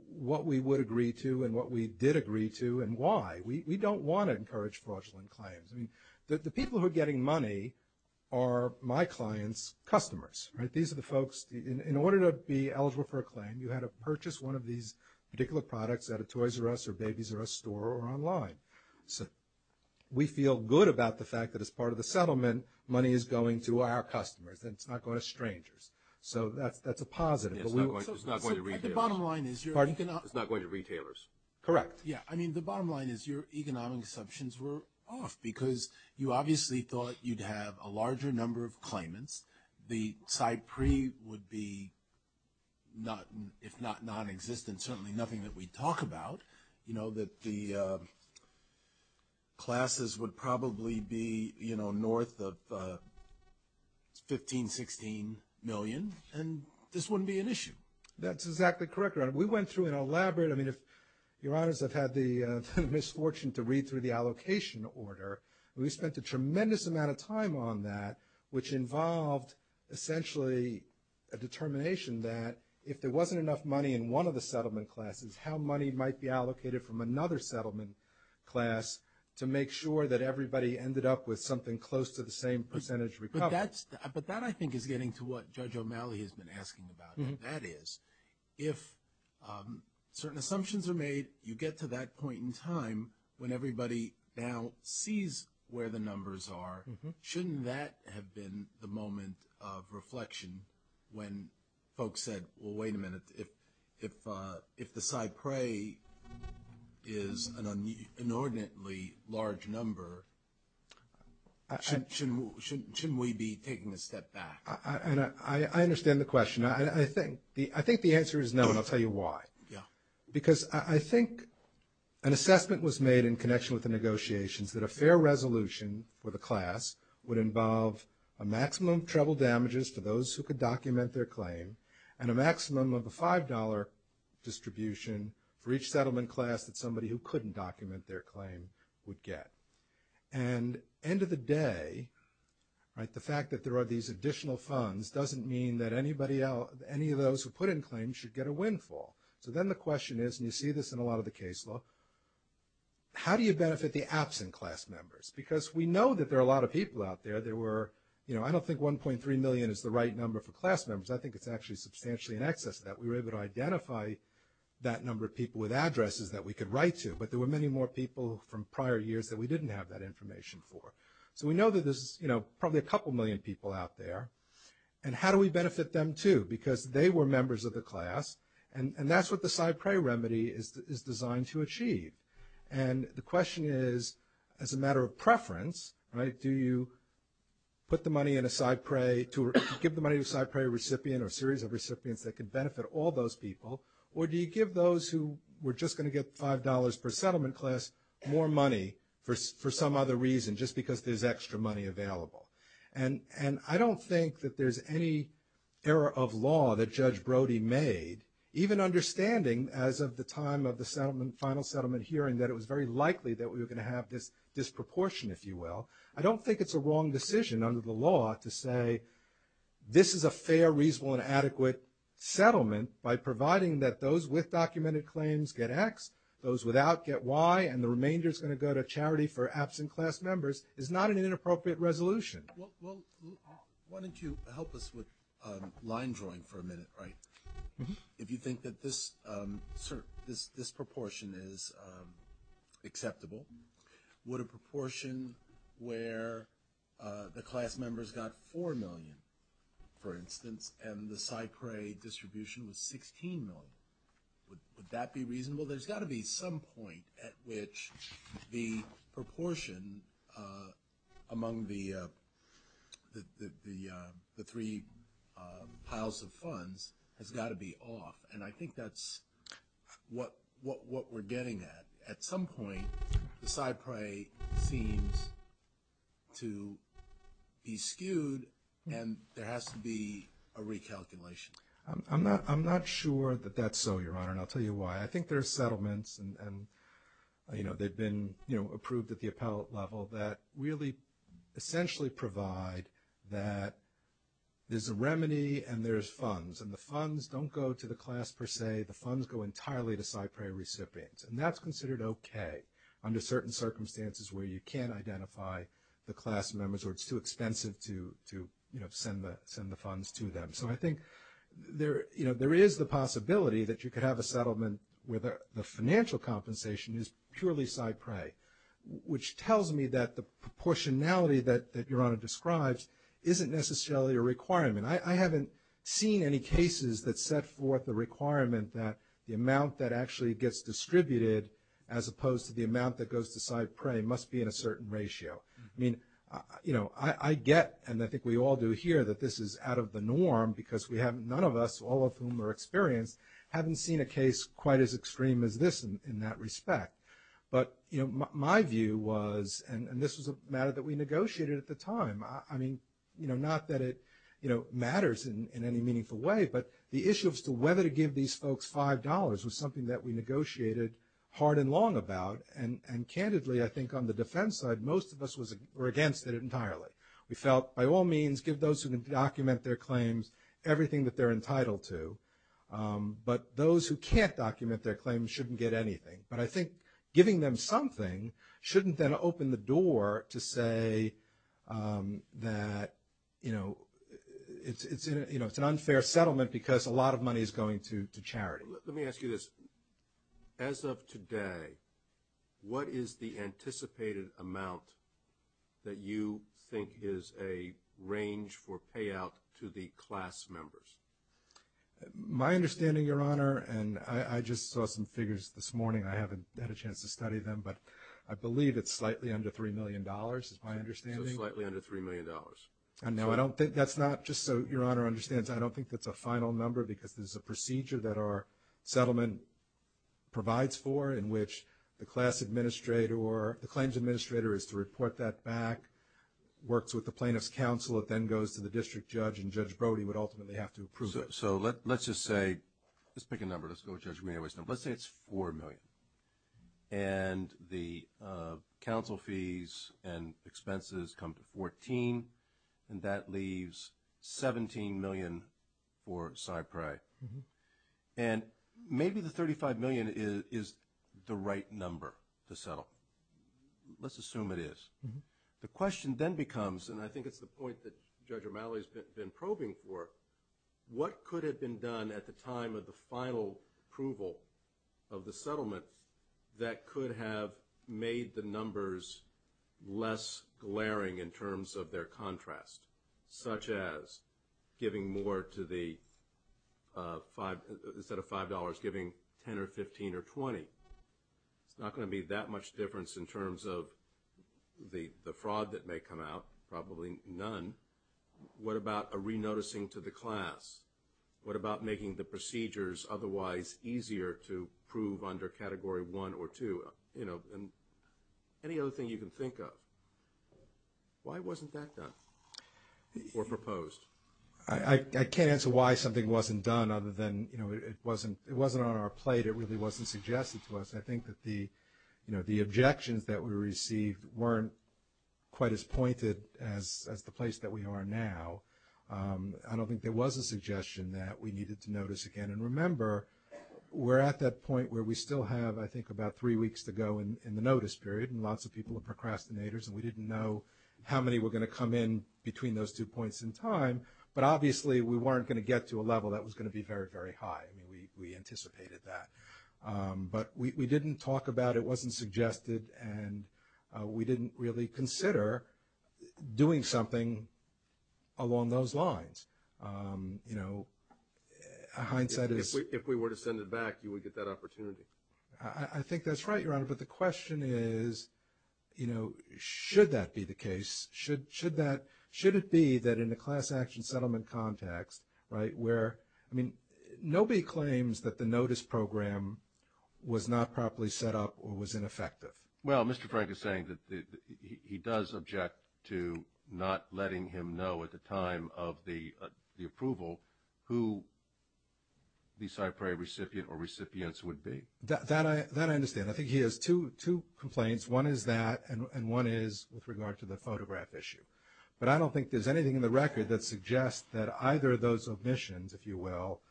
what we would agree to and what we did agree to and why. We don't want to encourage fraudulent claims. I mean, the people who are getting money are my clients' customers, right? These are the folks, in order to be eligible for a claim, you had to purchase one of these particular products at a Toys R Us or Babies R Us store or online. So we feel good about the fact that as part of the settlement, money is going to our customers and it's not going to strangers. So that's a positive. It's not going to retailers. Pardon? It's not going to retailers. Correct. Yeah, I mean, the bottom line is your economic assumptions were off because you obviously thought you'd have a larger number of claimants. The Cypre would be, if not nonexistent, certainly nothing that we'd talk about. You know, that the classes would probably be, you know, north of 15, 16 million, and this wouldn't be an issue. That's exactly correct, Your Honor. We went through an elaborate, I mean, Your Honors have had the misfortune to read through the allocation order. We spent a tremendous amount of time on that, which involved essentially a determination that if there wasn't enough money in one of the settlement classes, how money might be allocated from another settlement class to make sure that everybody ended up with something close to the same percentage recovered. But that, I think, is getting to what Judge O'Malley has been asking about. That is, if certain assumptions are made, you get to that point in time when everybody now sees where the numbers are. Shouldn't that have been the moment of reflection when folks said, well, wait a minute, if the Cypre is an inordinately large number, shouldn't we be taking a step back? I understand the question. I think the answer is no, and I'll tell you why. Because I think an assessment was made in connection with the negotiations that a fair resolution for the class would involve a maximum of treble damages to those who could document their claim and a maximum of a $5 distribution for each settlement class that somebody who couldn't document their claim would get. And end of the day, the fact that there are these additional funds doesn't mean that anybody else, any of those who put in claims should get a windfall. So then the question is, and you see this in a lot of the case law, how do you benefit the absent class members? Because we know that there are a lot of people out there that were, you know, I don't think 1.3 million is the right number for class members. I think it's actually substantially in excess of that. We were able to identify that number of people with addresses that we could write to. But there were many more people from prior years that we didn't have that information for. So we know that there's, you know, probably a couple million people out there. And how do we benefit them too? Because they were members of the class, and that's what the side prey remedy is designed to achieve. And the question is, as a matter of preference, right, do you put the money in a side prey, give the money to a side prey recipient or a series of recipients that could benefit all those people, or do you give those who were just going to get $5 per settlement class more money for some other reason, just because there's extra money available? And I don't think that there's any error of law that Judge Brody made, even understanding as of the time of the settlement, final settlement hearing, that it was very likely that we were going to have this disproportion, if you will. I don't think it's a wrong decision under the law to say this is a fair, reasonable, and adequate settlement by providing that those with documented claims get X, those without get Y, and the remainder is going to go to charity for absent class members is not an inappropriate resolution. Well, why don't you help us with line drawing for a minute, right? If you think that this proportion is acceptable, would a proportion where the class members got $4 million, for instance, and the side prey distribution was $16 million, would that be reasonable? There's got to be some point at which the proportion among the three piles of funds has got to be off, and I think that's what we're getting at. At some point, the side prey seems to be skewed, and there has to be a recalculation. I'm not sure that that's so, Your Honor, and I'll tell you why. I think there are settlements, and they've been approved at the appellate level, that really essentially provide that there's a remedy and there's funds, and the funds don't go to the class per se. The funds go entirely to side prey recipients, and that's considered okay under certain circumstances where you can't identify the class members or it's too expensive to send the funds to them. So I think there is the possibility that you could have a settlement where the financial compensation is purely side prey, which tells me that the proportionality that Your Honor describes isn't necessarily a requirement. I haven't seen any cases that set forth the requirement that the amount that actually gets distributed as opposed to the amount that goes to side prey must be in a certain ratio. I get, and I think we all do here, that this is out of the norm because none of us, all of whom are experienced, haven't seen a case quite as extreme as this in that respect. But my view was, and this was a matter that we negotiated at the time, I mean, not that it matters in any meaningful way, but the issue as to whether to give these folks $5 was something that we negotiated hard and long about, and candidly, I think on the defense side, most of us were against it entirely. We felt, by all means, give those who can document their claims everything that they're entitled to, but those who can't document their claims shouldn't get anything. But I think giving them something shouldn't then open the door to say that, you know, it's an unfair settlement because a lot of money is going to charity. Let me ask you this. As of today, what is the anticipated amount that you think is a range for payout to the class members? My understanding, Your Honor, and I just saw some figures this morning, I haven't had a chance to study them, but I believe it's slightly under $3 million is my understanding. So slightly under $3 million. No, I don't think that's not, just so Your Honor understands, I don't think that's a final number because this is a procedure that our settlement provides for in which the class administrator or the claims administrator is to report that back, works with the plaintiff's counsel, it then goes to the district judge, and Judge Brody would ultimately have to approve it. So let's just say, let's pick a number, let's go with Judge Romero's number. Let's say it's $4 million, and the counsel fees and expenses come to $14, and that leaves $17 million for CyPrey. And maybe the $35 million is the right number to settle. Let's assume it is. The question then becomes, and I think it's the point that Judge Romero has been probing for, what could have been done at the time of the final approval of the settlement that could have made the numbers less glaring in terms of their contrast, such as giving more to the, instead of $5, giving $10 or $15 or $20? It's not going to be that much difference in terms of the fraud that may come out, probably none. What about a re-noticing to the class? What about making the procedures otherwise easier to prove under Category 1 or 2? Any other thing you can think of? Why wasn't that done or proposed? I can't answer why something wasn't done other than it wasn't on our plate. It really wasn't suggested to us. I think that the objections that we received weren't quite as pointed as the place that we are now. I don't think there was a suggestion that we needed to notice again. And remember, we're at that point where we still have, I think, about three weeks to go in the notice period, and lots of people are procrastinators, and we didn't know how many were going to come in between those two points in time. But obviously we weren't going to get to a level that was going to be very, very high. I mean, we anticipated that. But we didn't talk about it. It wasn't suggested. And we didn't really consider doing something along those lines. You know, hindsight is— If we were to send it back, you would get that opportunity. I think that's right, Your Honor. But the question is, you know, should that be the case? Should it be that in a class action settlement context, right, where— I mean, nobody claims that the notice program was not properly set up or was ineffective. Well, Mr. Frank is saying that he does object to not letting him know at the time of the approval who the CyPRI recipient or recipients would be. That I understand. I think he has two complaints. One is that and one is with regard to the photograph issue. But I don't think there's anything in the record that suggests that either of those omissions, if you will,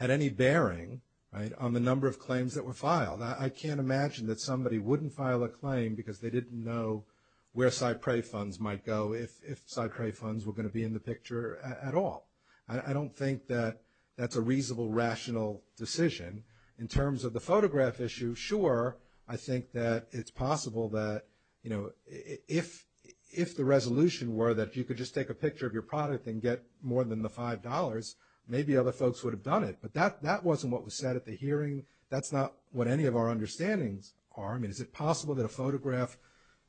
had any bearing on the number of claims that were filed. I can't imagine that somebody wouldn't file a claim because they didn't know where CyPRI funds might go if CyPRI funds were going to be in the picture at all. I don't think that that's a reasonable, rational decision. In terms of the photograph issue, sure, I think that it's possible that, you know, if the resolution were that you could just take a picture of your product and get more than the $5, maybe other folks would have done it. But that wasn't what was said at the hearing. That's not what any of our understandings are. I mean, is it possible that a photograph,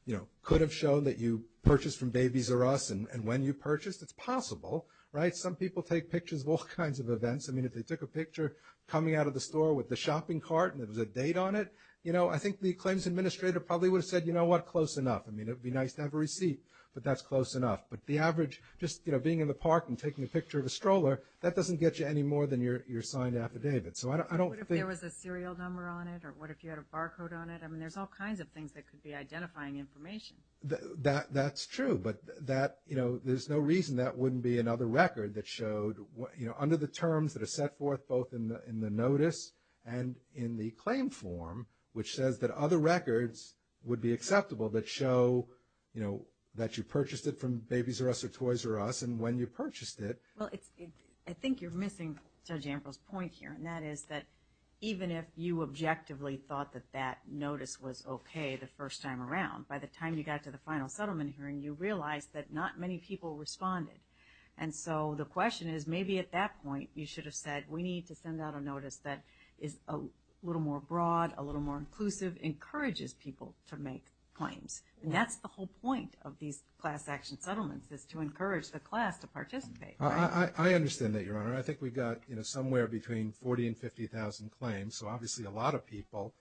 you know, could have shown that you purchased from Babies R Us and when you purchased? It's possible, right? Some people take pictures of all kinds of events. I mean, if they took a picture coming out of the store with the shopping cart and there was a date on it, you know, I think the claims administrator probably would have said, you know what, close enough. I mean, it would be nice to have a receipt, but that's close enough. But the average just, you know, being in the park and taking a picture of a stroller, that doesn't get you any more than your signed affidavit. So I don't think – What if there was a serial number on it or what if you had a barcode on it? I mean, there's all kinds of things that could be identifying information. That's true. But that, you know, there's no reason that wouldn't be another record that showed, you know, under the terms that are set forth both in the notice and in the claim form, which says that other records would be acceptable that show, you know, that you purchased it from Babies R Us or Toys R Us and when you purchased it. Well, I think you're missing Judge Ambrose's point here, and that is that even if you objectively thought that that notice was okay the first time around, by the time you got to the final settlement hearing, you realized that not many people responded. And so the question is maybe at that point you should have said, we need to send out a notice that is a little more broad, a little more inclusive, encourages people to make claims. And that's the whole point of these class action settlements is to encourage the class to participate. I understand that, Your Honor. I think we've got, you know, somewhere between 40,000 and 50,000 claims, so obviously a lot of people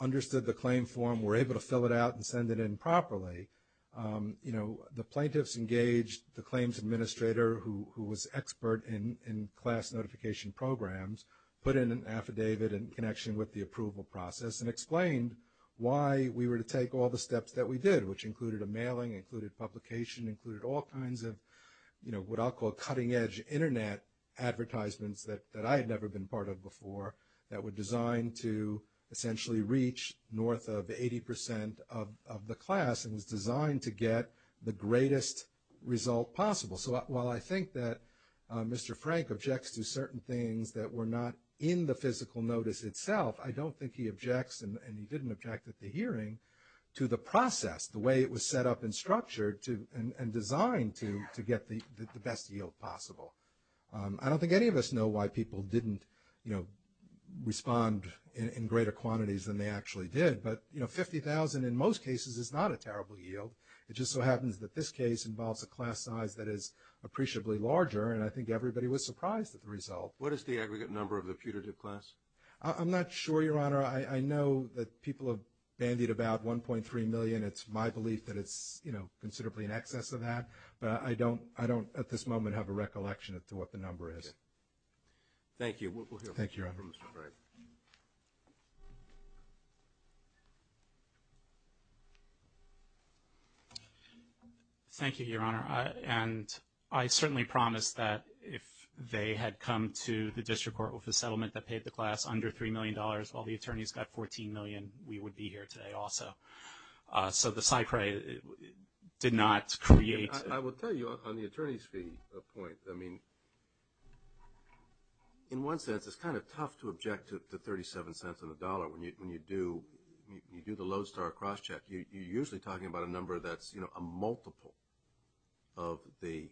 understood the claim form, were able to fill it out and send it in properly. You know, the plaintiffs engaged the claims administrator, who was expert in class notification programs, put in an affidavit in connection with the approval process and explained why we were to take all the steps that we did, which included a mailing, included publication, included all kinds of, you know, what I'll call cutting edge Internet advertisements that I had never been part of before that were designed to essentially reach north of 80% of the class and was designed to get the greatest result possible. So while I think that Mr. Frank objects to certain things that were not in the physical notice itself, I don't think he objects, and he didn't object at the hearing, to the process, the way it was set up and structured and designed to get the best yield possible. I don't think any of us know why people didn't, you know, respond in greater quantities than they actually did, but, you know, 50,000 in most cases is not a terrible yield. It just so happens that this case involves a class size that is appreciably larger, and I think everybody was surprised at the result. What is the aggregate number of the putative class? I'm not sure, Your Honor. I know that people have bandied about 1.3 million. It's my belief that it's, you know, considerably in excess of that, but I don't at this moment have a recollection as to what the number is. Thank you. We'll hear from Mr. Frank. Thank you, Your Honor. And I certainly promised that if they had come to the district court with a settlement that paid the class under $3 million, all the attorneys got $14 million, we would be here today also. So the PSYCRAE did not create. I will tell you on the attorney's fee point, I mean, in one sense, it's kind of tough to object to $0.37 on the dollar when you do the Lodestar crosscheck. You're usually talking about a number that's, you know, a multiple of the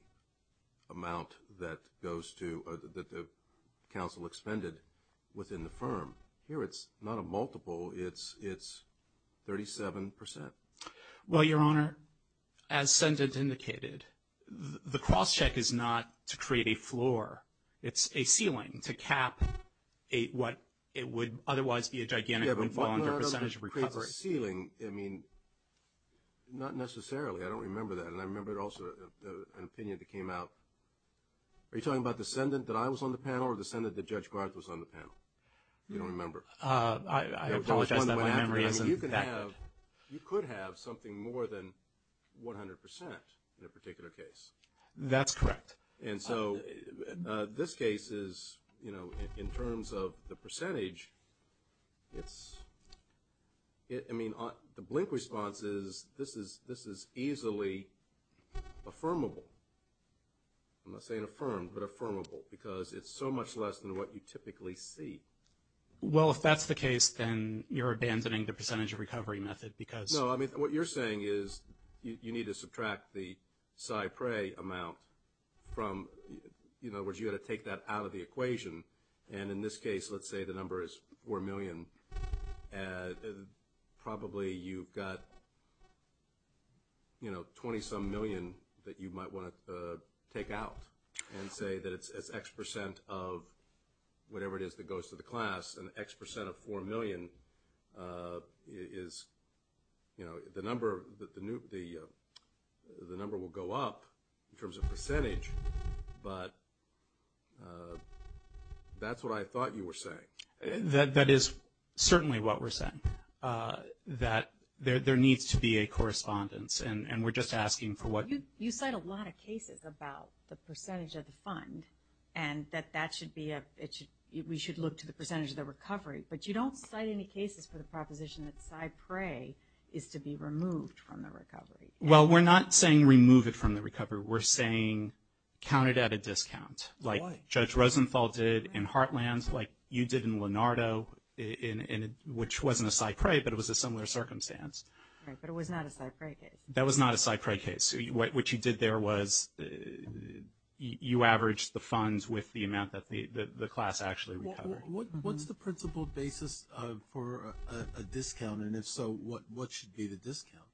amount that goes to or that the counsel expended within the firm. Here it's not a multiple. It's 37%. Well, Your Honor, as sentence indicated, the crosscheck is not to create a floor. It's a ceiling to cap what it would otherwise be a gigantic percentage of recovery. A ceiling, I mean, not necessarily. I don't remember that. And I remember also an opinion that came out. Are you talking about the ascendant that I was on the panel or the ascendant that Judge Grant was on the panel? You don't remember. I apologize that my memory isn't that good. You could have something more than 100% in a particular case. That's correct. And so this case is, you know, in terms of the percentage, it's, I mean, the blink response is this is easily affirmable. I'm not saying affirmed, but affirmable, because it's so much less than what you typically see. Well, if that's the case, then you're abandoning the percentage recovery method because. No, I mean, what you're saying is you need to subtract the PSI PRE amount from, in other words, you've got to take that out of the equation. And in this case, let's say the number is 4 million. Probably you've got, you know, 20-some million that you might want to take out and say that it's X percent of whatever it is that goes to the class, and X percent of 4 million is, you know, the number will go up in terms of percentage, but that's what I thought you were saying. That is certainly what we're saying, that there needs to be a correspondence, and we're just asking for what. You cite a lot of cases about the percentage of the fund and that we should look to the percentage of the recovery, but you don't cite any cases for the proposition that PSI PRE is to be removed from the recovery. Well, we're not saying remove it from the recovery. We're saying count it at a discount, like Judge Rosenthal did in Heartland, like you did in Lenardo, which wasn't a PSI PRE, but it was a similar circumstance. Right, but it was not a PSI PRE case. That was not a PSI PRE case. What you did there was you averaged the funds with the amount that the class actually recovered. What's the principle basis for a discount, and if so, what should be the discount?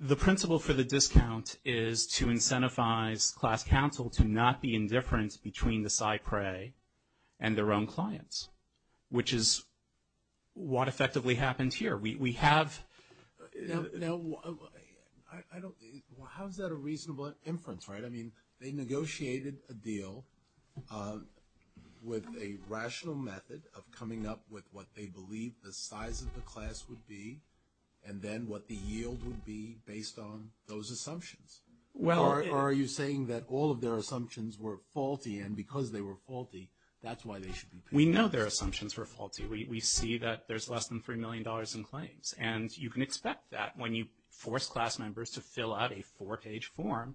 The principle for the discount is to incentivize class counsel to not be indifferent between the PSI PRE and their own clients, which is what effectively happened here. Now, how is that a reasonable inference, right? I mean, they negotiated a deal with a rational method of coming up with what they believed the size of the class would be and then what the yield would be based on those assumptions. Or are you saying that all of their assumptions were faulty, and because they were faulty, that's why they should be penalized? We know their assumptions were faulty. We see that there's less than $3 million in claims, and you can expect that when you force class members to fill out a four-page form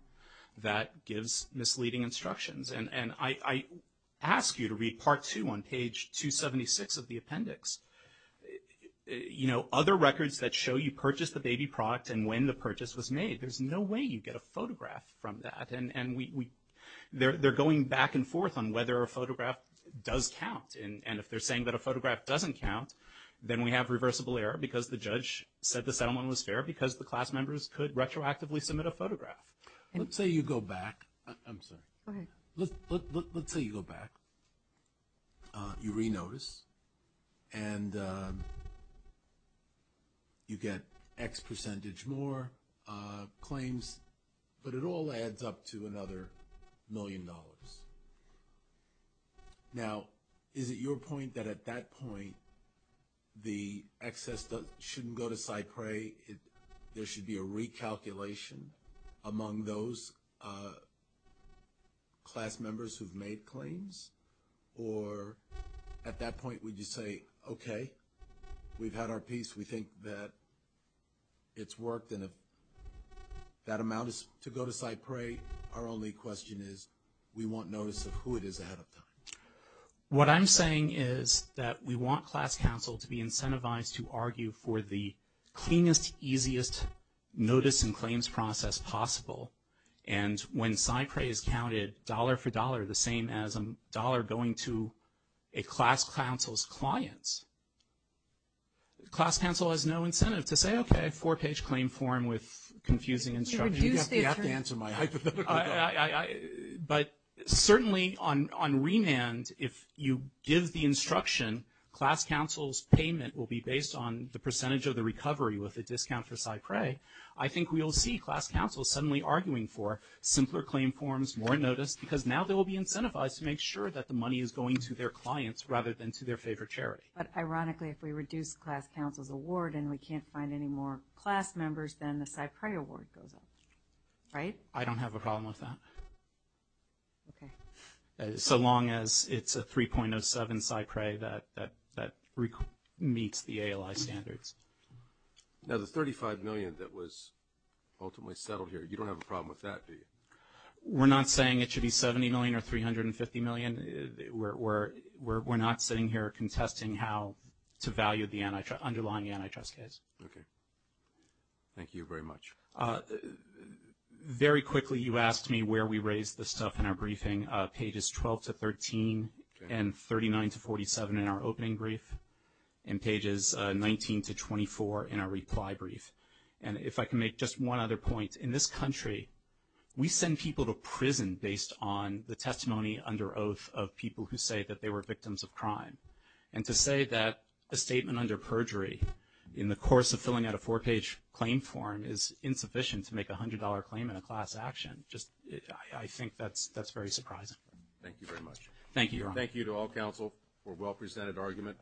that gives misleading instructions. And I ask you to read part two on page 276 of the appendix. You know, other records that show you purchased the baby product and when the purchase was made, there's no way you get a photograph from that. And they're going back and forth on whether a photograph does count, and if they're saying that a photograph doesn't count, then we have reversible error because the judge said the settlement was fair because the class members could retroactively submit a photograph. Let's say you go back. I'm sorry. Go ahead. Let's say you go back. You re-notice, and you get X percentage more claims, but it all adds up to another million dollars. Now, is it your point that at that point, the excess shouldn't go to Cypre? There should be a recalculation among those class members who've made claims? Or at that point, would you say, okay, we've had our piece. We think that it's worked, and if that amount is to go to Cypre, our only question is we want notice of who it is ahead of time. What I'm saying is that we want class counsel to be incentivized to argue for the cleanest, easiest notice and claims process possible. And when Cypre is counted dollar for dollar, the same as a dollar going to a class counsel's clients, class counsel has no incentive to say, okay, four-page claim form with confusing instructions. You have to answer my hypothetical question. But certainly on remand, if you give the instruction, class counsel's payment will be based on the percentage of the recovery with a discount for Cypre, I think we'll see class counsel suddenly arguing for simpler claim forms, more notice, because now they will be incentivized to make sure that the money is going to their clients rather than to their favorite charity. But ironically, if we reduce class counsel's award and we can't find any more class members, then the Cypre award goes up, right? I don't have a problem with that. Okay. So long as it's a 3.07 Cypre that meets the ALI standards. Now, the $35 million that was ultimately settled here, you don't have a problem with that, do you? We're not saying it should be $70 million or $350 million. We're not sitting here contesting how to value the underlying antitrust case. Okay. Thank you very much. Very quickly, you asked me where we raise the stuff in our briefing, pages 12 to 13 and 39 to 47 in our opening brief, and pages 19 to 24 in our reply brief. And if I can make just one other point, in this country, we send people to prison based on the testimony under oath of people who say that they were victims of crime. And to say that a statement under perjury in the course of filling out a four-page claim form is insufficient to make a $100 claim in a class action, I think that's very surprising. Thank you very much. Thank you, Your Honor. Thank you to all counsel for a well-presented argument.